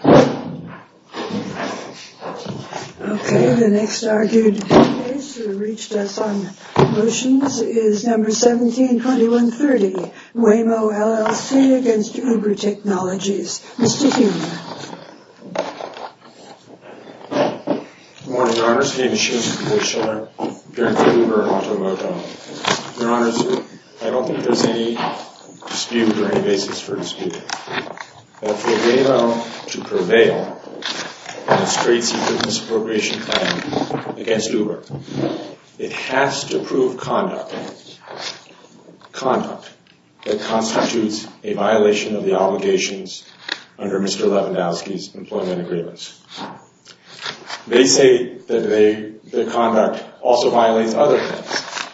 Okay, the next argued case that reached us on motions is number 172130, Waymo LLC against Uber Technologies. Mr. Hume. Good morning, Your Honors. David Hume, publisher of Uber and Automoto. Your Honors, I don't think there's any dispute or any basis for dispute. But for Waymo to prevail on a straight-C business appropriation plan against Uber, it has to prove conduct that constitutes a violation of the obligations under Mr. Lewandowski's employment agreements. They say that their conduct also violates other things,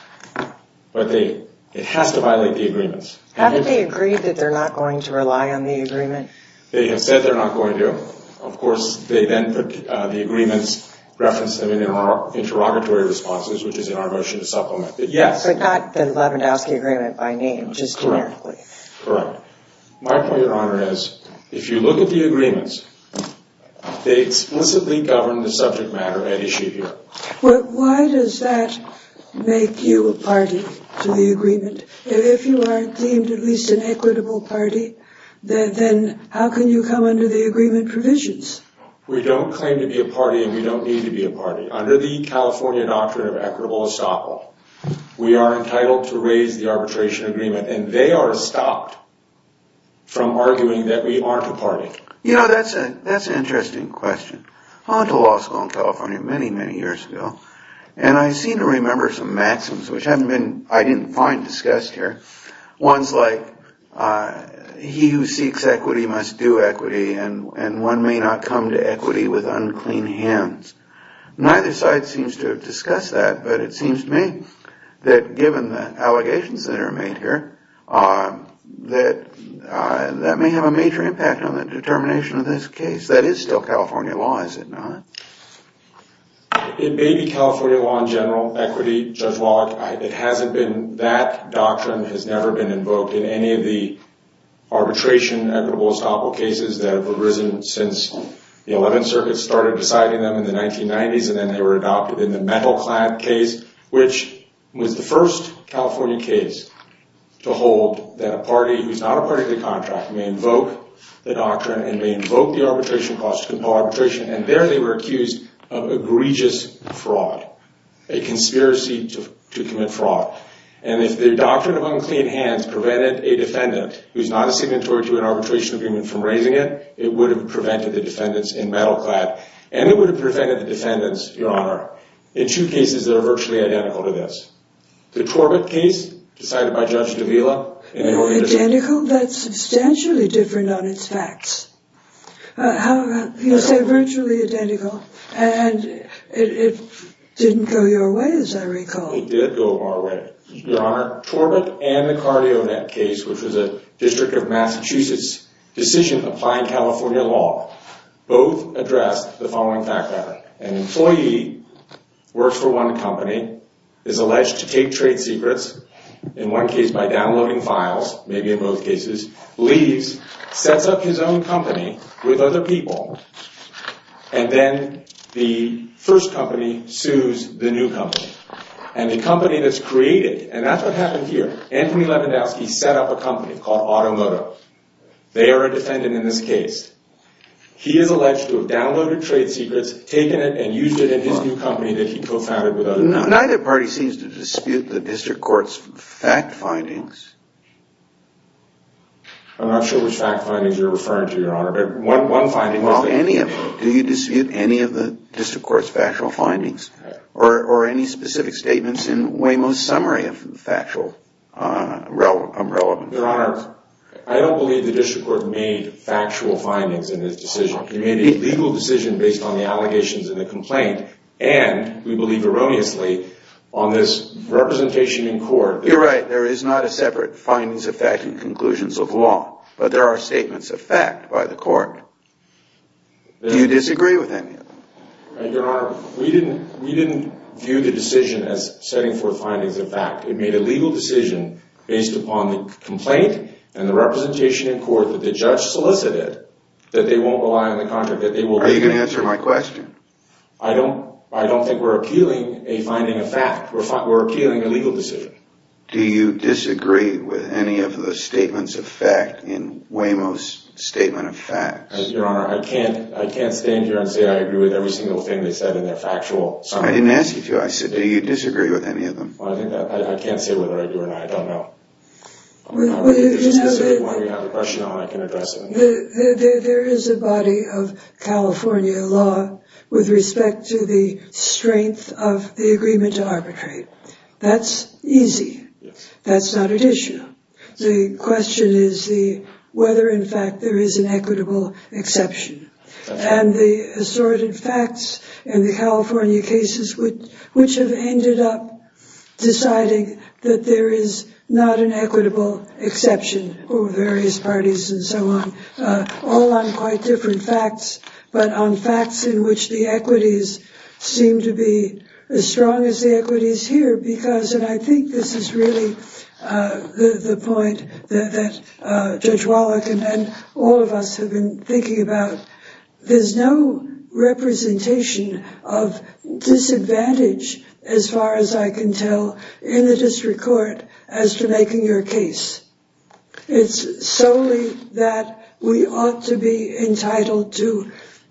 but it has to violate the agreements. Haven't they agreed that they're not going to rely on the agreement? They have said they're not going to. Of course, they then put the agreements, referenced them in our interrogatory responses, which is in our motion to supplement. But yes. But not the Lewandowski agreement by name, just generically. Correct. My point, Your Honor, is if you look at the agreements, they explicitly govern the subject matter at issue here. Why does that make you a party to the agreement? If you are deemed at least an equitable party, then how can you come under the agreement provisions? We don't claim to be a party, and we don't need to be a party. Under the California Doctrine of Equitable Estoppel, we are entitled to raise the arbitration agreement. And they are stopped from arguing that we aren't a party. You know, that's an interesting question. I went to law school in California many, many years ago, and I seem to remember some maxims which I didn't find discussed here. Ones like, he who seeks equity must do equity, and one may not come to equity with unclean hands. Neither side seems to have discussed that, but it seems to me that given the allegations that are made here, that may have a major impact on the determination of this case. That is still California law, is it not? It may be California law in general, equity, Judge Wallach, it hasn't been. That doctrine has never been invoked in any of the arbitration equitable estoppel cases that have arisen since the 11th Circuit started deciding them in the 1990s, and then they were adopted in the metal-clad case, which was the first California case to hold that a party who's not a party to the contract may invoke the doctrine and may invoke the arbitration clause to compel arbitration. And there they were accused of egregious fraud, a conspiracy to commit fraud. And if the doctrine of unclean hands prevented a defendant who's not a signatory to an arbitration agreement from raising it, it would have prevented the defendants in metal-clad, and it would have prevented the defendants, Your Honor, in two cases that are virtually identical to this. The Torbett case, decided by Judge Davila, and they were in a different- Identical? That's substantially different on its facts. You say virtually identical, and it didn't go your way, as I recall. It did go our way, Your Honor. Torbett and the Cardionet case, which was a District of Massachusetts decision applying California law, both addressed the following fact pattern. An employee works for one company, is alleged to take trade secrets, in one case by downloading files, maybe in both cases, leaves, sets up his own company with other people, and then the first company sues the new company. And the company that's created, and that's what happened here, Anthony Lewandowski set up a company called Automoto. They are a defendant in this case. He is alleged to have downloaded trade secrets, taken it, and used it in his new company that he co-founded with other companies. Neither party seems to dispute the District Court's fact findings. I'm not sure which fact findings you're referring to, Your Honor. One finding- Well, any of them. Do you dispute any of the District Court's factual findings, or any specific statements in Waymo's summary of factual relevance? Your Honor, I don't believe the District Court made factual findings in this decision. It made a legal decision based on the allegations in the complaint, and we believe erroneously on this representation in court- You're right. There is not a separate findings of fact and conclusions of law, but there are statements of fact by the court. Do you disagree with any of them? Your Honor, we didn't view the decision as setting forth findings of fact. It made a legal decision based upon the complaint and the representation in court that the judge solicited that they won't rely on the contract- Are you going to answer my question? I don't think we're appealing a finding of fact. We're appealing a legal decision. Do you disagree with any of the statements of fact in Waymo's statement of facts? Your Honor, I can't stand here and say I agree with every single thing they said in their factual summary. I didn't ask you to. I said, do you disagree with any of them? I can't say whether I do or not. I don't know. I'm not going to be discussing it while you have the question on. I can address it. There is a body of California law with respect to the strength of the agreement to arbitrate. That's easy. That's not additional. The question is whether, in fact, there is an equitable exception. And the assorted facts in the California cases, which have ended up deciding that there is not an equitable exception for various parties and so on, all on quite different facts, but on facts in which the equities seem to be as strong as the equities here because, and I think this is really the point that Judge Wallach and all of us have been thinking about, there's no representation of disadvantage, as far as I can tell, in the district court as to making your case. It's solely that we ought to be entitled to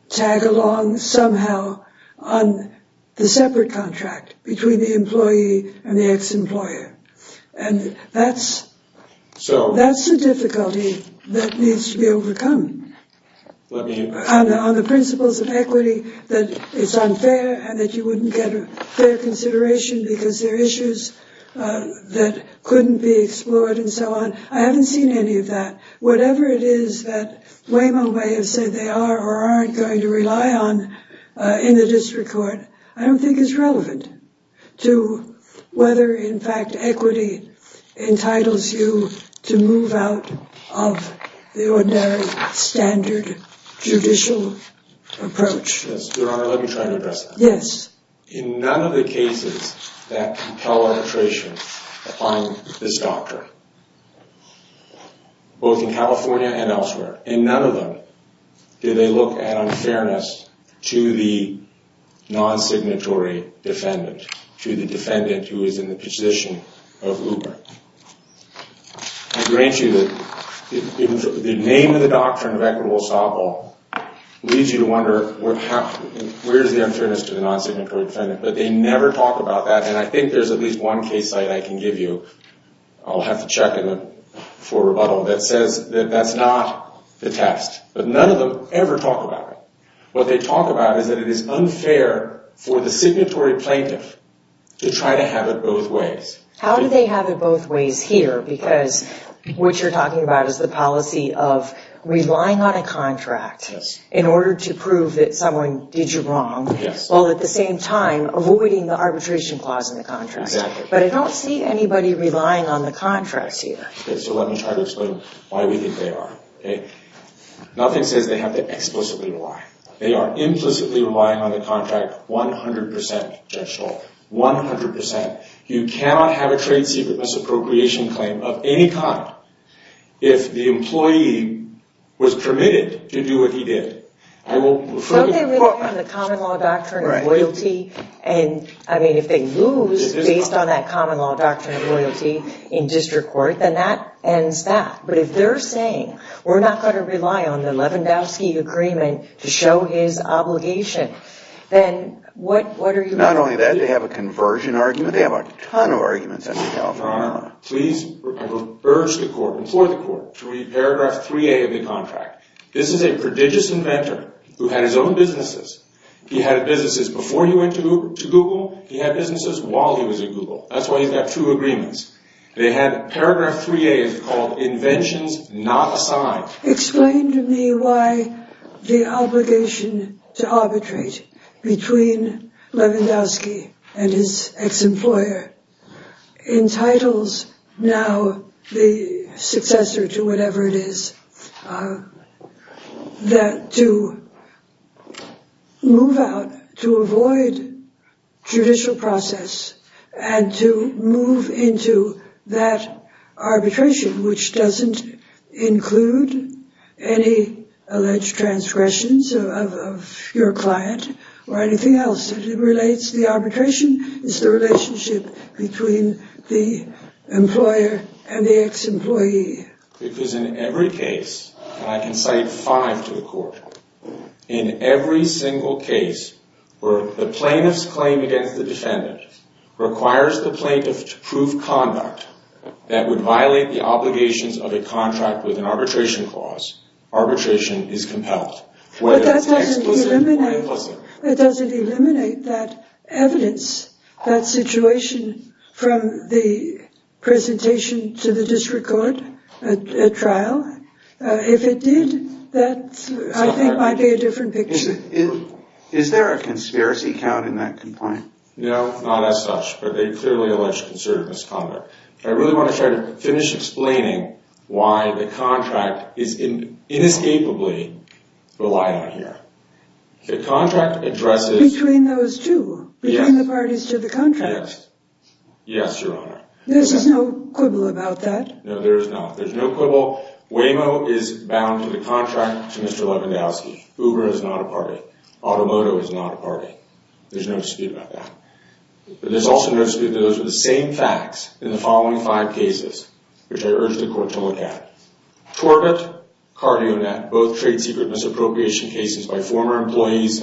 tag along somehow on the separate contract between the employee and the ex-employer. And that's the difficulty that needs to be overcome. On the principles of equity, that it's unfair and that you wouldn't get a fair consideration because there are issues that couldn't be explored and so on. I haven't seen any of that. Whatever it is that Waymo may have said they are or aren't going to rely on in the district court, I don't think is relevant to whether, in fact, equity entitles you to move out of the ordinary standard judicial approach. Yes, Your Honor, let me try to address that. Yes. In none of the cases that compel arbitration on this doctrine, both in California and elsewhere, in none of them did they look at unfairness to the non-signatory defendant, to the defendant who is in the position of Uber. I grant you that the name of the doctrine of equitable softball leads you to wonder, where's the unfairness to the non-signatory defendant? But they never talk about that. And I think there's at least one case I can give you. I'll have to check it for rebuttal. That says that that's not the test. But none of them ever talk about it. What they talk about is that it is unfair for the signatory plaintiff to try to have it both ways. How do they have it both ways here? Because what you're talking about is the policy of relying on a contract in order to prove that someone did you wrong, while at the same time avoiding the arbitration clause in the contract. Exactly. But I don't see anybody relying on the contracts here. So let me try to explain why we think they are. Nothing says they have to explicitly rely. They are implicitly relying on the contract 100%, Judge Hall, 100%. You cannot have a trade secret misappropriation claim of any kind. If the employee was permitted to do what he did, I will refer you to the court. So they live on the common law doctrine of loyalty. I mean, if they lose based on that common law doctrine of loyalty in district court, then that ends that. But if they're saying we're not going to rely on the Lewandowski agreement to show his obligation, then what are you making? Not only that, they have a conversion argument. They have a ton of arguments in California. Your Honor, please urge the court, implore the court, to read paragraph 3A of the contract. This is a prodigious inventor who had his own businesses. He had businesses before he went to Google. He had businesses while he was at Google. That's why he's got two agreements. They had paragraph 3A called inventions not assigned. Explain to me why the obligation to arbitrate between Lewandowski and his ex-employer entitles now the successor to whatever it is that to move out, to avoid judicial process, and to move into that arbitration which doesn't include any alleged transgressions of your client or anything else. It relates to the arbitration. It's the relationship between the employer and the ex-employee. Because in every case, and I can cite five to the court, in every single case where the plaintiff's claim against the defendant requires the plaintiff to prove conduct that would violate the obligations of a contract with an arbitration clause, arbitration is compelled, whether it's explicit or implicit. It doesn't eliminate that evidence, that situation, from the presentation to the district court at trial. If it did, that, I think, might be a different picture. Is there a conspiracy count in that complaint? No, not as such, but they clearly alleged conservative misconduct. I really want to try to finish explaining why the contract is inescapably relied on here. The contract addresses- Between those two? Yes. Between the parties to the contract? Yes. Yes, Your Honor. There's no quibble about that? No, there is not. There's no quibble. Waymo is bound to the contract to Mr. Lewandowski. Uber is not a party. Automoto is not a party. There's no dispute about that. But there's also no dispute that those are the same facts in the following five cases, which I urge the court to look at. Corbett, CardioNet, both trade secret misappropriation cases by former employees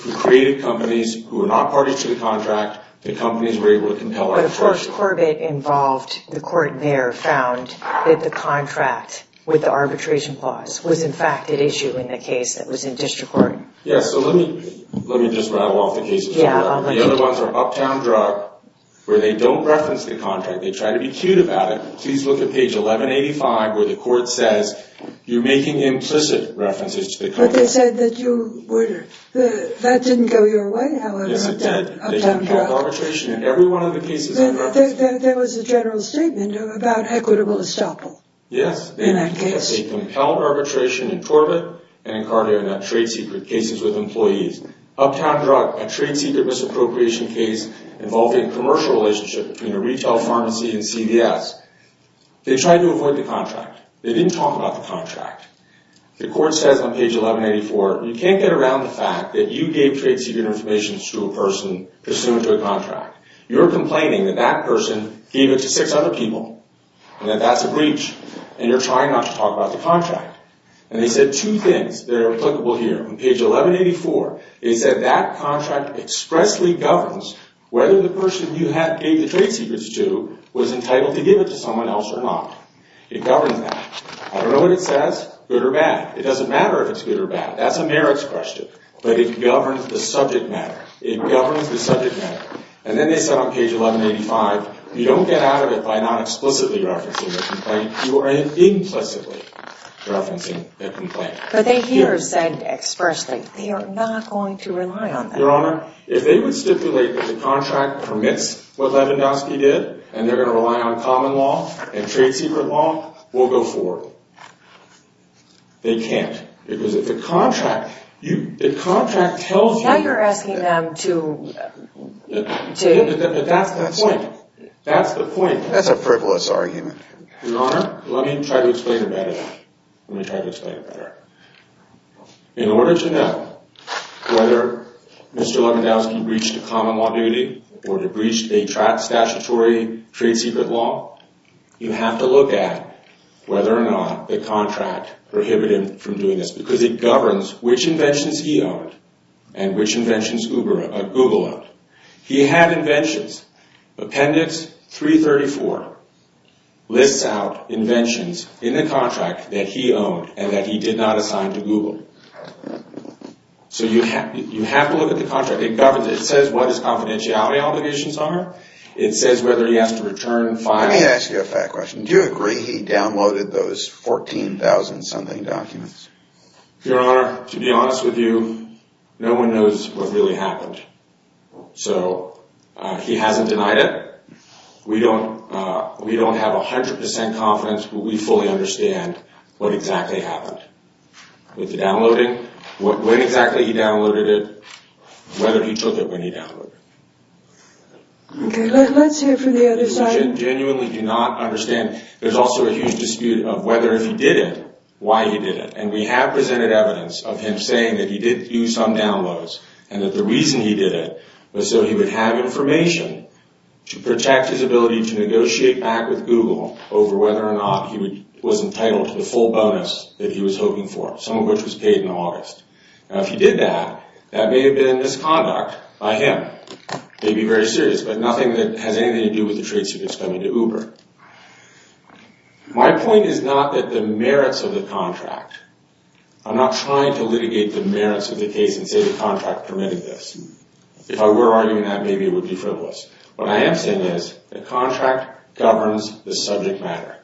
who created companies who were not parties to the contract. The companies were able to compel- But, of course, Corbett involved- the court there found that the contract with the arbitration clause was, in fact, an issue in the case that was in district court. Yes, so let me just rattle off the cases. The other ones are Uptown Drug, where they don't reference the contract. They try to be cute about it. Please look at page 1185, where the court says you're making implicit references to the contract. But they said that you were- that didn't go your way, however. Yes, it did. Uptown Drug. They compel arbitration in every one of the cases. There was a general statement about equitable estoppel. Yes. In that case. They compel arbitration in Corbett and in CardioNet trade secret cases with employees. Uptown Drug, a trade secret misappropriation case involving commercial relationship between a retail pharmacy and CVS. They tried to avoid the contract. They didn't talk about the contract. The court says on page 1184, you can't get around the fact that you gave trade secret information to a person pursuant to a contract. You're complaining that that person gave it to six other people, and that that's a breach. And you're trying not to talk about the contract. And they said two things that are applicable here. On page 1184, they said that contract expressly governs whether the person you gave the trade secrets to was entitled to give it to someone else or not. It governs that. I don't know what it says, good or bad. It doesn't matter if it's good or bad. That's a merits question. But it governs the subject matter. It governs the subject matter. And then they said on page 1185, you don't get out of it by not explicitly referencing the complaint. You are implicitly referencing the complaint. But they here have said expressly, they are not going to rely on that. Your Honor, if they would stipulate that the contract permits what Lewandowski did, and they're going to rely on common law and trade secret law, we'll go forward. They can't. Because if the contract tells you— Now you're asking them to— But that's the point. That's the point. That's a frivolous argument. Your Honor, let me try to explain it better. Let me try to explain it better. In order to know whether Mr. Lewandowski breached a common law duty or breached a statutory trade secret law, you have to look at whether or not the contract prohibited him from doing this. Because it governs which inventions he owned and which inventions Google owned. He had inventions. Appendix 334 lists out inventions in the contract that he owned and that he did not assign to Google. So you have to look at the contract. It governs it. It says what his confidentiality obligations are. It says whether he has to return files— Let me ask you a fact question. Do you agree he downloaded those 14,000-something documents? Your Honor, to be honest with you, no one knows what really happened. So he hasn't denied it. We don't have 100 percent confidence, but we fully understand what exactly happened. With the downloading, when exactly he downloaded it, whether he took it when he downloaded it. Okay, let's hear from the other side. We genuinely do not understand. There's also a huge dispute of whether if he did it, why he did it. And we have presented evidence of him saying that he did use some downloads and that the reason he did it was so he would have information to protect his ability to negotiate back with Google over whether or not he was entitled to the full bonus that he was hoping for, some of which was paid in August. Now, if he did that, that may have been a misconduct by him. Maybe very serious, but nothing that has anything to do with the trade secrets coming to Uber. My point is not that the merits of the contract— If I were arguing that, maybe it would be frivolous. What I am saying is the contract governs the subject matter.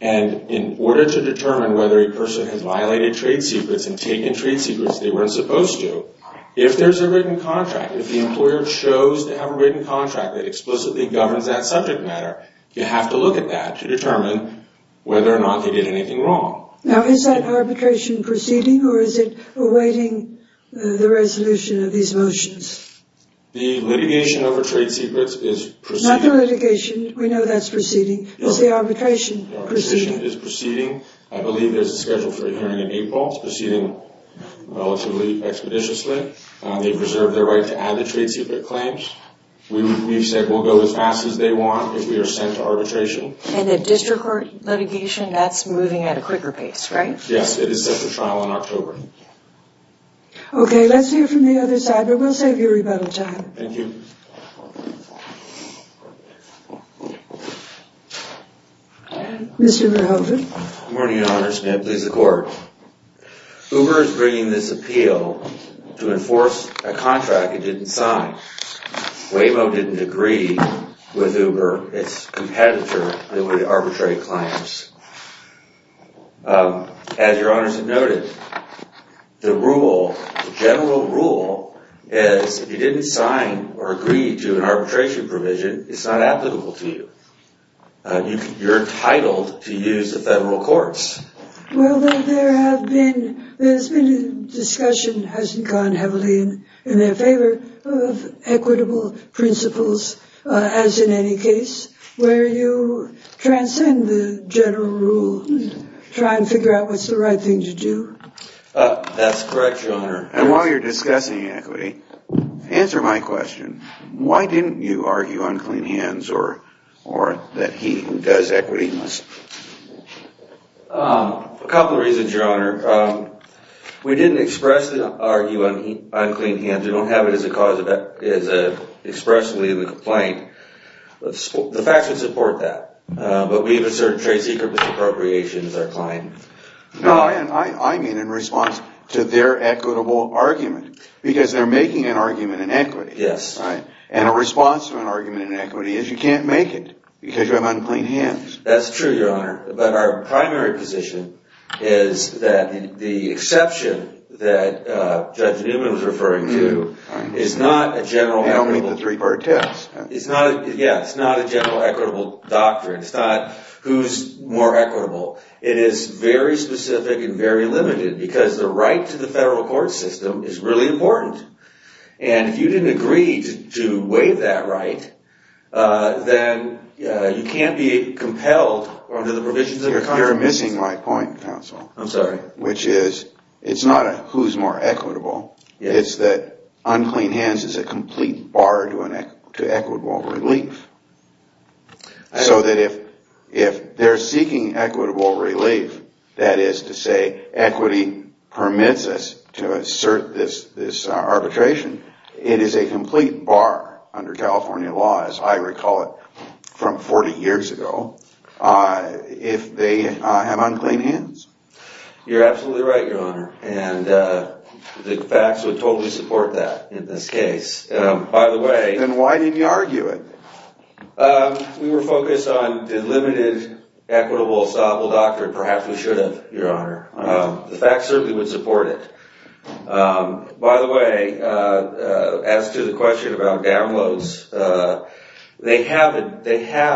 And in order to determine whether a person has violated trade secrets and taken trade secrets they weren't supposed to, if there's a written contract, if the employer chose to have a written contract that explicitly governs that subject matter, you have to look at that to determine whether or not they did anything wrong. Now, is that arbitration proceeding or is it awaiting the resolution of these motions? The litigation over trade secrets is proceeding. Not the litigation. We know that's proceeding. Is the arbitration proceeding? The arbitration is proceeding. I believe there's a schedule for a hearing in April. It's proceeding relatively expeditiously. They've reserved their right to add the trade secret claims. We've said we'll go as fast as they want if we are sent to arbitration. And the district court litigation, that's moving at a quicker pace, right? Yes, it is set for trial in October. Okay, let's hear from the other side, but we'll save you rebuttal time. Thank you. Mr. Rehovot. Good morning, Your Honors. May it please the Court. Uber is bringing this appeal to enforce a contract it didn't sign. Waymo didn't agree with Uber, its competitor, that would arbitrate claims. As Your Honors have noted, the rule, the general rule, is if you didn't sign or agree to an arbitration provision, it's not applicable to you. You're entitled to use the federal courts. Well, there have been, there's been discussion, hasn't gone heavily in their favor of equitable principles, as in any case, where you transcend the general rule and try and figure out what's the right thing to do. That's correct, Your Honor. And while you're discussing equity, answer my question. Why didn't you argue on clean hands or that he who does equity must? A couple of reasons, Your Honor. We didn't expressly argue on clean hands. We don't have it as a cause, as expressly in the complaint. The facts would support that, but we have a certain trade secret with appropriations, our client. No, I mean in response to their equitable argument, because they're making an argument in equity. Yes. And a response to an argument in equity is you can't make it, because you have unclean hands. That's true, Your Honor. But our primary position is that the exception that Judge Newman was referring to is not a general equitable... I don't mean the three-part test. It's not, yeah, it's not a general equitable doctrine. It's not who's more equitable. It is very specific and very limited, because the right to the federal court system is really important. And if you didn't agree to waive that right, then you can't be compelled under the provisions of the... You're missing my point, counsel. I'm sorry. Which is it's not a who's more equitable. It's that unclean hands is a complete bar to equitable relief. So that if they're seeking equitable relief, that is to say equity permits us to assert this arbitration, it is a complete bar under California law, as I recall it from 40 years ago, if they have unclean hands. You're absolutely right, Your Honor. And the facts would totally support that in this case. By the way... Then why didn't you argue it? We were focused on the limited equitable, solvable doctrine. Perhaps we should have, Your Honor. The facts certainly would support it. By the way, as to the question about downloads, they have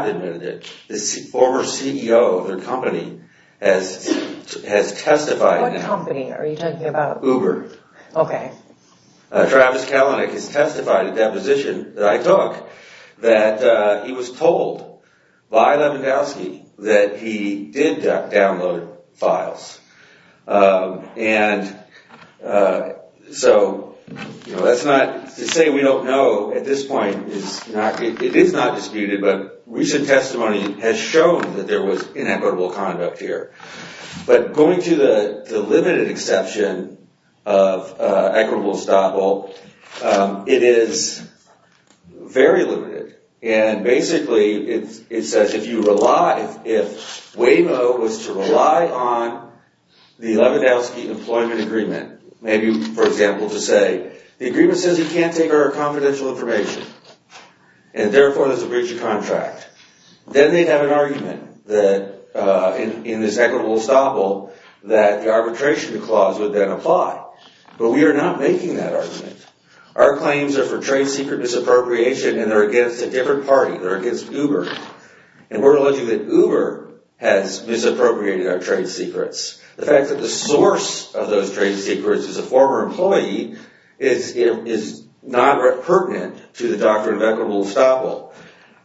admitted it. The former CEO of their company has testified... What company are you talking about? Uber. Okay. Travis Kalanick has testified at that position that I took that he was told by Lewandowski that he did download files. And so that's not... To say we don't know at this point is not... It is not disputed, but recent testimony has shown that there was inequitable conduct here. But going to the limited exception of equitable estoppel, it is very limited. And basically it says if you rely... If Wavo was to rely on the Lewandowski employment agreement, maybe, for example, to say, the agreement says you can't take our confidential information and therefore there's a breach of contract, then they'd have an argument that in this equitable estoppel that the arbitration clause would then apply. But we are not making that argument. Our claims are for trade secret disappropriation and they're against a different party. They're against Uber. And we're alleging that Uber has misappropriated our trade secrets. The fact that the source of those trade secrets is a former employee is not pertinent to the doctrine of equitable estoppel.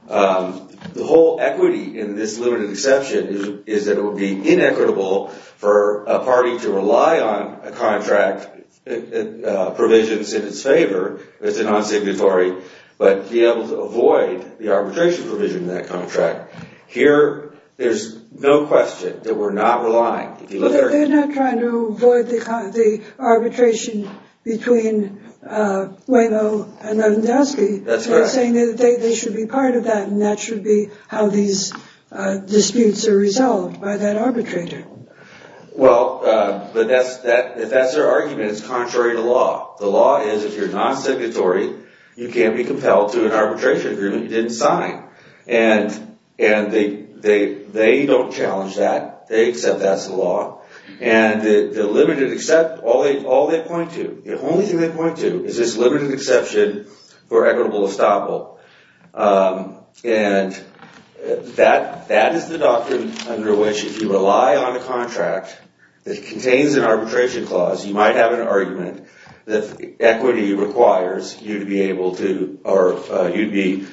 The whole equity in this limited exception is that it would be inequitable for a party to rely on a contract provisions in its favor. It's a non-signatory. But to be able to avoid the arbitration provision in that contract, here there's no question that we're not relying. They're not trying to avoid the arbitration between Wavo and Lewandowski. That's correct. They're saying that they should be part of that and that should be how these disputes are resolved by that arbitrator. Well, if that's their argument, it's contrary to law. The law is if you're non-signatory, you can't be compelled to an arbitration agreement you didn't sign. And they don't challenge that. They accept that's the law. And the limited exception, all they point to, the only thing they point to is this limited exception for equitable estoppel. And that is the doctrine under which if you rely on a contract that contains an arbitration clause, you might have an argument that equity requires you to be able to or you'd be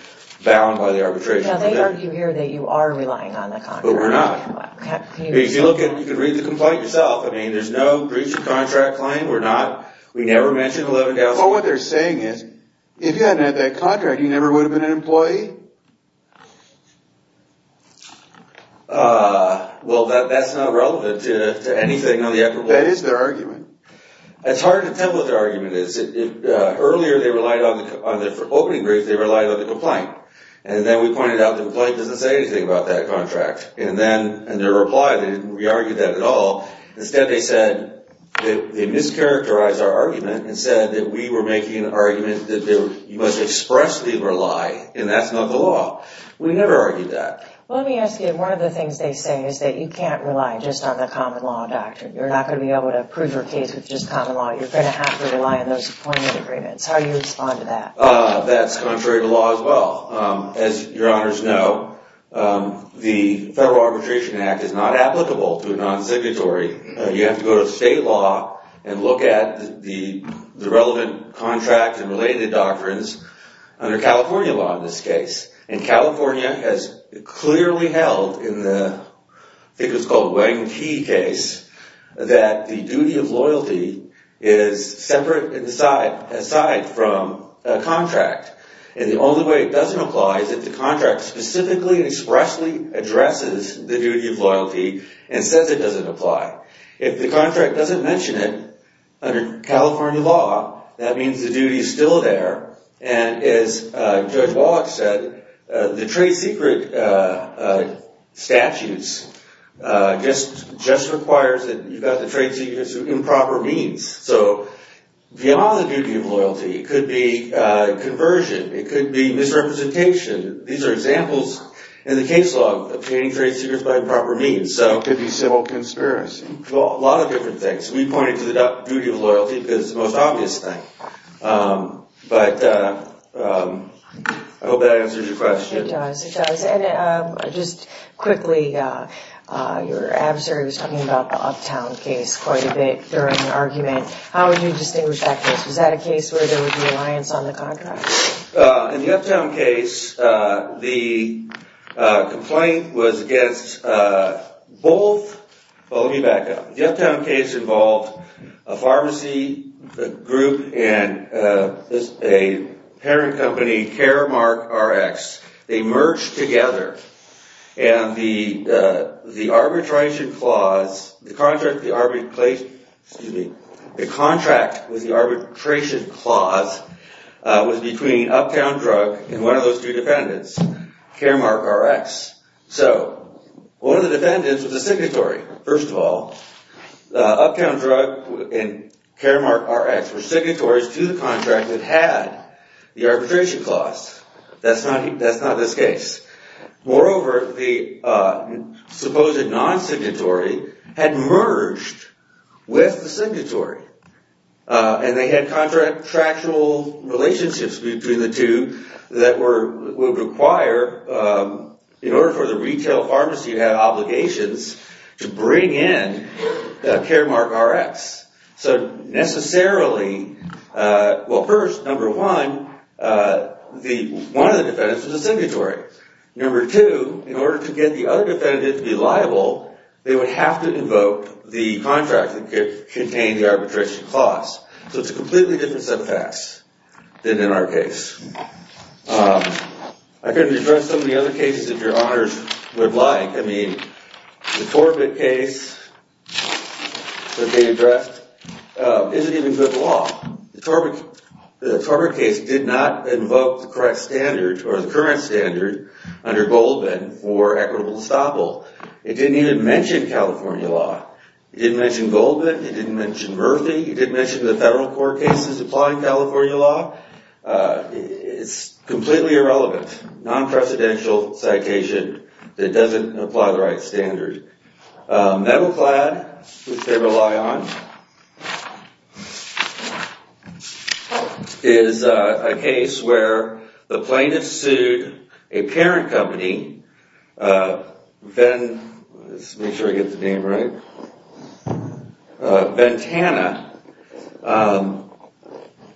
bound by the arbitration. Now, they argue here that you are relying on the contract. But we're not. If you look at it, you can read the complaint yourself. I mean, there's no breach of contract claim. We're not. We never mentioned Lewandowski. Well, what they're saying is if you hadn't had that contract, you never would have been an employee. Well, that's not relevant to anything on the equitable. That is their argument. It's hard to tell what their argument is. Earlier, they relied on the opening brief. They relied on the complaint. And then we pointed out the complaint doesn't say anything about that contract. And then in their reply, they didn't re-argue that at all. Instead, they said they mischaracterized our argument and said that we were making an argument that you must expressly rely, and that's not the law. We never argued that. Well, let me ask you. One of the things they say is that you can't rely just on the common law doctrine. You're not going to be able to prove your case with just common law. You're going to have to rely on those appointment agreements. How do you respond to that? That's contrary to law as well. As your honors know, the Federal Arbitration Act is not applicable to a non-exhibitory. You have to go to state law and look at the relevant contract and related doctrines under California law in this case. And California has clearly held in the, I think it was called, Wayne Key case that the duty of loyalty is separate aside from a contract. And the only way it doesn't apply is if the contract specifically and expressly addresses the duty of loyalty and says it doesn't apply. If the contract doesn't mention it under California law, that means the duty is still there. And as Judge Wallach said, the trade secret statutes just requires that you've got the trade secrets through improper means. So beyond the duty of loyalty, it could be conversion. It could be misrepresentation. These are examples in the case law of obtaining trade secrets by improper means. It could be civil conspiracy. A lot of different things. We pointed to the duty of loyalty because it's the most obvious thing. But I hope that answers your question. It does. It does. And just quickly, your adversary was talking about the Uptown case quite a bit during the argument. How would you distinguish that case? Was that a case where there was reliance on the contract? In the Uptown case, the complaint was against both – well, let me back up. The Uptown case involved a pharmacy group and a parent company, Caremark Rx. They merged together. And the arbitration clause – the contract with the arbitration clause was between Uptown Drug and one of those two defendants, Caremark Rx. So one of the defendants was a signatory. First of all, Uptown Drug and Caremark Rx were signatories to the contract that had the arbitration clause. That's not this case. Moreover, the supposed non-signatory had merged with the signatory. And they had contractual relationships between the two that would require, in order for the retail pharmacy to have obligations to bring in Caremark Rx. So necessarily – well, first, number one, one of the defendants was a signatory. Number two, in order to get the other defendant to be liable, they would have to invoke the contract that contained the arbitration clause. So it's a completely different set of facts than in our case. I could address some of the other cases if your honors would like. I mean, the Torbett case could be addressed. Is it even good law? The Torbett case did not invoke the correct standard or the current standard under Goldman for equitable estoppel. It didn't even mention California law. It didn't mention Goldman. It didn't mention Murphy. It didn't mention the federal court cases applying California law. It's completely irrelevant. Non-precedential citation that doesn't apply the right standard. Metalclad, which they rely on, is a case where the plaintiff sued a parent company, Ventana,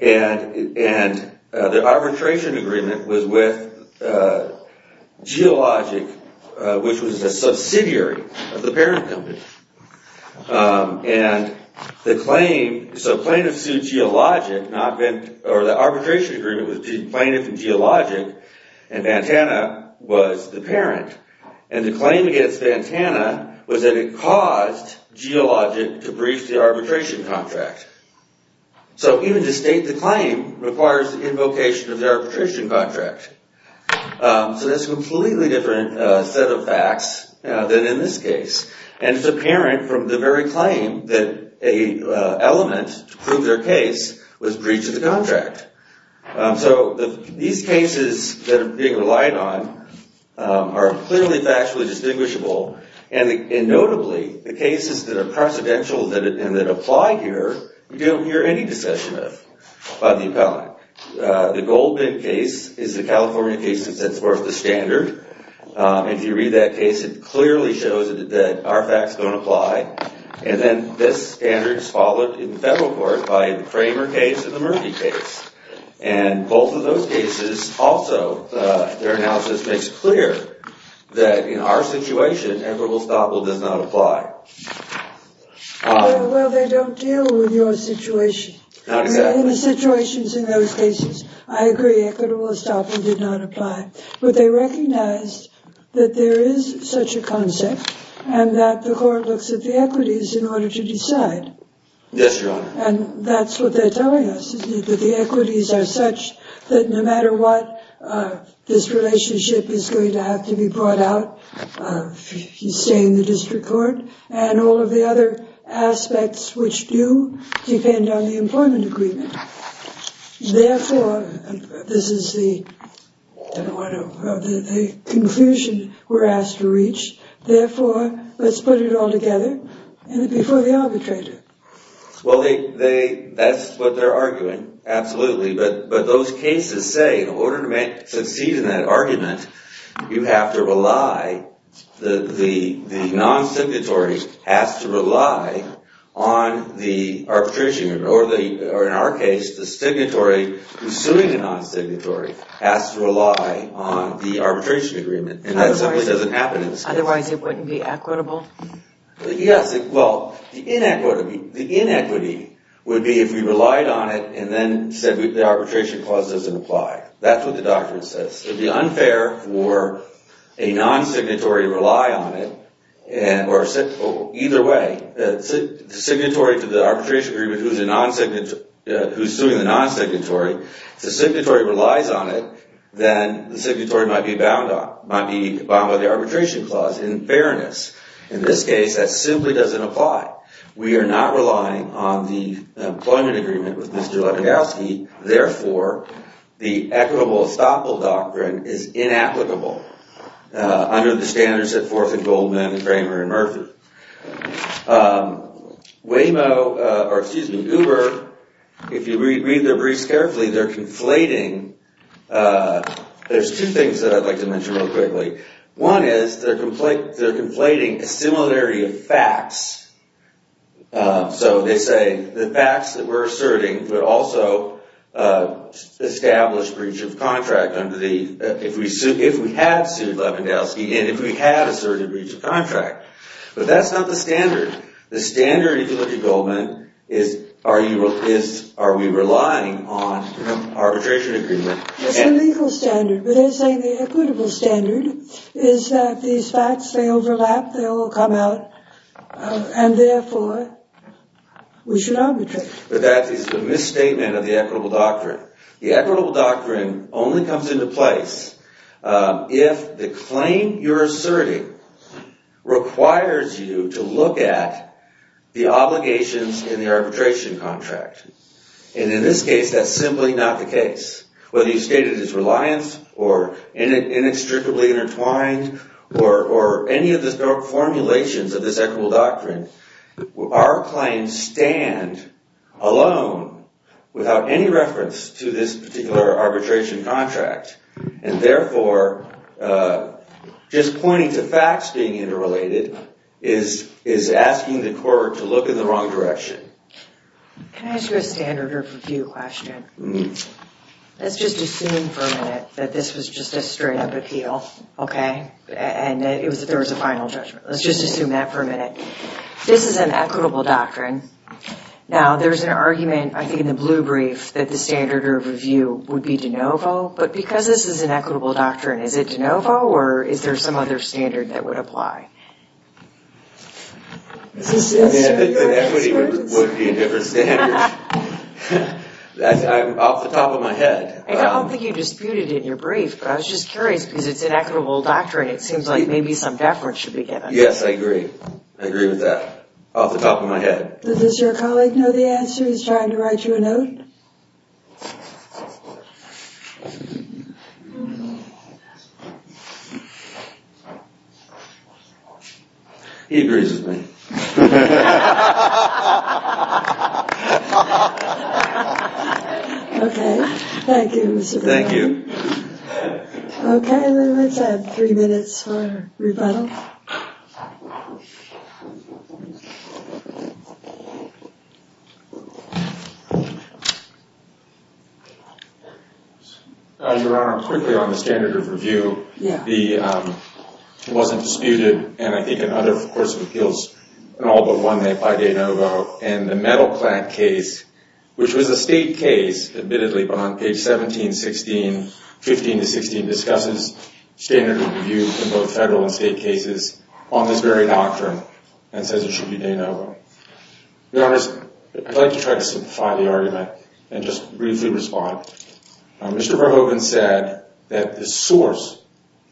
and the arbitration agreement was with Geologic, which was a subsidiary of the parent company. And the claim, so plaintiff sued Geologic, or the arbitration agreement was to plaintiff and Geologic, and Ventana was the parent. And the claim against Ventana was that it caused Geologic to breach the arbitration contract. So even to state the claim requires the invocation of the arbitration contract. So that's a completely different set of facts than in this case. And it's apparent from the very claim that an element to prove their case was breached of the contract. So these cases that are being relied on are clearly factually distinguishable, and notably, the cases that are precedential and that apply here, you don't hear any discussion of by the appellant. The Goldman case is the California case that sets forth the standard. If you read that case, it clearly shows that our facts don't apply. And then this standard is followed in the federal court by the Kramer case and the Murphy case. And both of those cases also, their analysis makes clear that in our situation, equitable estoppel does not apply. Well, they don't deal with your situation. Not exactly. In the situations in those cases, I agree, equitable estoppel did not apply. But they recognized that there is such a concept and that the court looks at the equities in order to decide. Yes, Your Honor. And that's what they're telling us, that the equities are such that no matter what, this relationship is going to have to be brought out, if you stay in the district court, and all of the other aspects, which do depend on the employment agreement. Therefore, this is the conclusion we're asked to reach. Therefore, let's put it all together before the arbitrator. Well, that's what they're arguing, absolutely. But those cases say, in order to succeed in that argument, you have to rely, the non-signatory has to rely on the arbitration agreement. Or in our case, the signatory who's suing the non-signatory has to rely on the arbitration agreement. And that simply doesn't happen in this case. Otherwise, it wouldn't be equitable? Yes. Well, the inequity would be if we relied on it and then said the arbitration clause doesn't apply. That's what the doctrine says. It would be unfair for a non-signatory to rely on it. Either way, the signatory to the arbitration agreement who's suing the non-signatory, if the signatory relies on it, then the signatory might be bound by the arbitration clause, in fairness. In this case, that simply doesn't apply. We are not relying on the employment agreement with Mr. Lebedowsky. Therefore, the equitable estoppel doctrine is inapplicable under the standards that Forth and Goldman and Kramer and Murphy. Uber, if you read their briefs carefully, they're conflating. There's two things that I'd like to mention real quickly. One is they're conflating a similarity of facts. So they say the facts that we're asserting would also establish breach of contract if we had sued Lebedowsky and if we had asserted breach of contract. But that's not the standard. The standard, if you look at Goldman, is are we relying on arbitration agreement? That's the legal standard, but they're saying the equitable standard is that these facts, they overlap, they all come out, and therefore, we should arbitrate. But that is a misstatement of the equitable doctrine. The equitable doctrine only comes into place if the claim you're asserting requires you to look at the obligations in the arbitration contract. And in this case, that's simply not the case. Whether you state it as reliance or inextricably intertwined or any of the formulations of this equitable doctrine, our claims stand alone without any reference to this particular arbitration contract. And therefore, just pointing to facts being interrelated is asking the court to look in the wrong direction. Can I ask you a standard of review question? Let's just assume for a minute that this was just a straight-up appeal, okay? And that there was a final judgment. Let's just assume that for a minute. This is an equitable doctrine. Now, there's an argument, I think, in the blue brief that the standard of review would be de novo, but because this is an equitable doctrine, is it de novo or is there some other standard that would apply? That would be a different standard. Off the top of my head. I don't think you disputed it in your brief, but I was just curious because it's an equitable doctrine. It seems like maybe some deference should be given. Yes, I agree. I agree with that. Off the top of my head. He's trying to write you a note. He agrees with me. Okay. Thank you, Mr. Thaler. Thank you. Okay, then let's have three minutes for rebuttal. Your Honor, quickly on the standard of review. It wasn't disputed. And I think in other courts of appeals, it all but won that by de novo. And the metal clamp case, which was a state case, admittedly, but on page 17, 16, 15 to 16, discusses standard of review in both federal and state cases on this very doctrine and says it should be de novo. Your Honor, I'd like to try to simplify the argument and just briefly respond. Mr. Verhoeven said that the source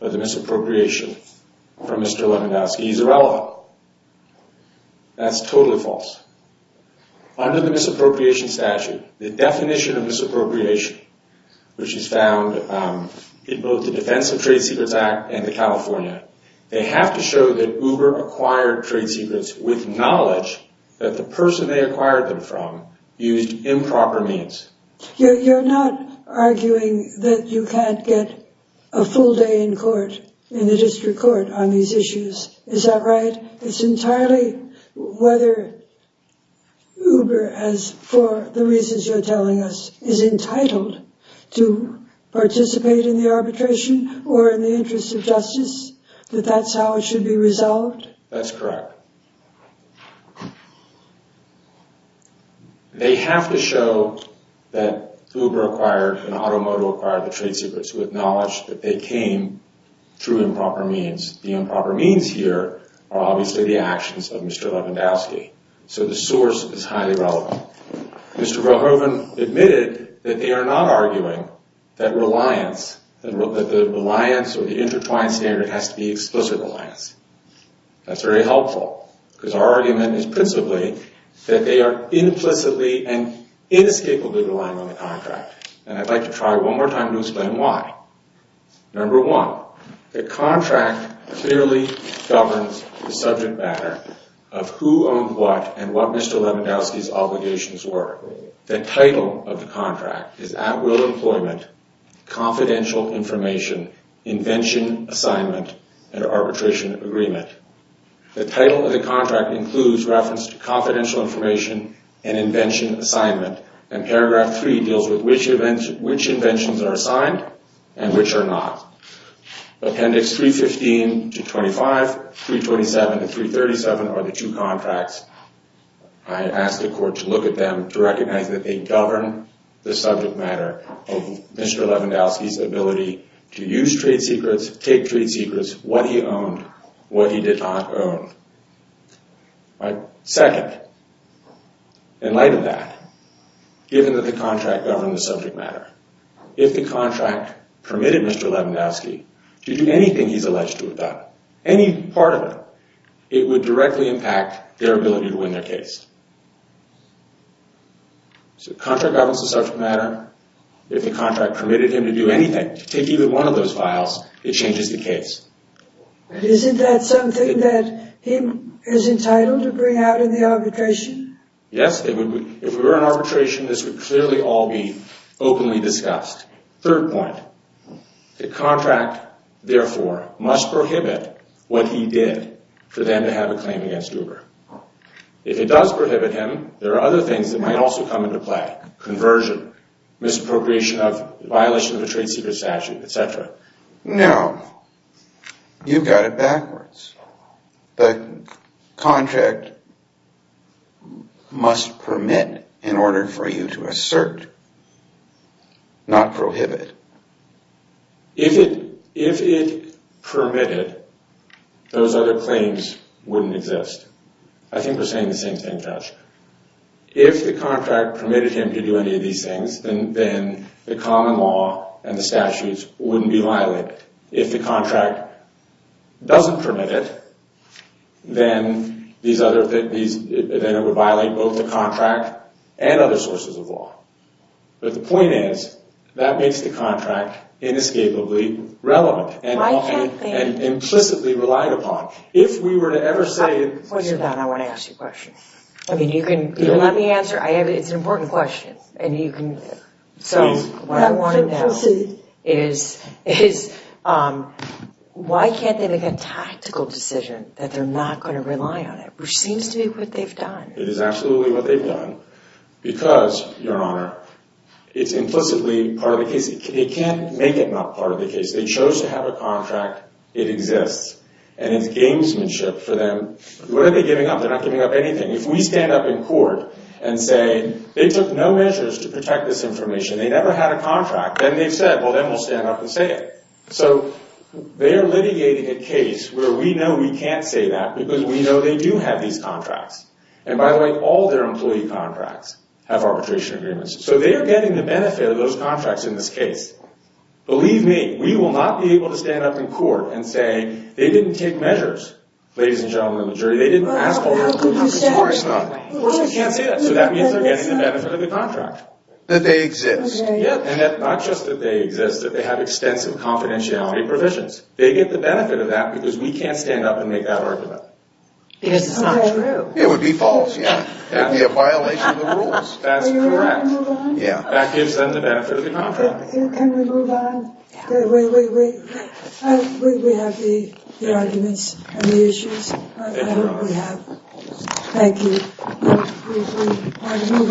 of the misappropriation from Mr. Lewandowski is irrelevant. That's totally false. Under the misappropriation statute, the definition of misappropriation, which is found in both the Defense of Trade Secrets Act and the California Act, they have to show that Uber acquired trade secrets with knowledge that the person they acquired them from used improper means. You're not arguing that you can't get a full day in court, in the district court, on these issues. Is that right? It's entirely whether Uber, as for the reasons you're telling us, is entitled to participate in the arbitration or in the interest of justice, that that's how it should be resolved? That's correct. They have to show that Uber acquired and Automoto acquired the trade secrets with knowledge that they came through improper means. The improper means here are obviously the actions of Mr. Lewandowski, so the source is highly relevant. Mr. Verhoeven admitted that they are not arguing that reliance or the intertwined standard has to be explicit reliance. That's very helpful. Because our argument is principally that they are implicitly and inescapably relying on the contract. And I'd like to try one more time to explain why. Number one, the contract clearly governs the subject matter of who owned what and what Mr. Lewandowski's obligations were. The title of the contract is At-Will Employment, Confidential Information, Invention, Assignment, and Arbitration Agreement. The title of the contract includes reference to confidential information and invention assignment. And paragraph three deals with which inventions are assigned and which are not. Appendix 315-25, 327-337 are the two contracts. I asked the court to look at them to recognize that they govern the subject matter of Mr. Lewandowski's ability to use trade secrets, take trade secrets, what he owned, what he did not own. Second, in light of that, given that the contract governed the subject matter, if the contract permitted Mr. Lewandowski to do anything he's alleged to have done, any part of it, it would directly impact their ability to win their case. So the contract governs the subject matter. If the contract permitted him to do anything, to take even one of those files, it changes the case. But isn't that something that him is entitled to bring out in the arbitration? Yes, it would be. If we were in arbitration, this would clearly all be openly discussed. Third point, the contract, therefore, must prohibit what he did for them to have a claim against Uber. If it does prohibit him, there are other things that might also come into play. Conversion, misappropriation of, violation of a trade secret statute, etc. No. You've got it backwards. The contract must permit, in order for you to assert, not prohibit. If it permitted, those other claims wouldn't exist. I think we're saying the same thing, Judge. then the common law and the statutes wouldn't be violated. If the contract doesn't permit it, then it would violate both the contract and other sources of law. But the point is, that makes the contract inescapably relevant and implicitly relied upon. If we were to ever say... I want to ask you a question. Let me answer. It's an important question. Please. It's not implicit. It is absolutely what they've done. Because, Your Honor, it's implicitly part of the case. They can't make it not part of the case. They chose to have a contract. It exists. And it's gamesmanship for them. What are they giving up? They're not giving up anything. If we stand up in court and say they took no measures to protect this information, they never had a contract, then they've said, well, then we'll stand up and say it. So they are litigating a case where we know we can't say that because we know they do have these contracts. And by the way, all their employee contracts have arbitration agreements. So they are getting the benefit of those contracts in this case. Believe me, we will not be able to stand up in court and say they didn't take measures, ladies and gentlemen of the jury. They didn't ask for arbitration. Of course we can't say that. So that means they're getting the benefit of the contract. That they exist. Not just that they exist, that they have extensive confidentiality provisions. They get the benefit of that because we can't stand up and make that argument. Because it's not true. It would be false, yeah. It would be a violation of the rules. That's correct. That gives them the benefit of the contract. Can we move on? We have the arguments and the issues. I hope we have. Thank you.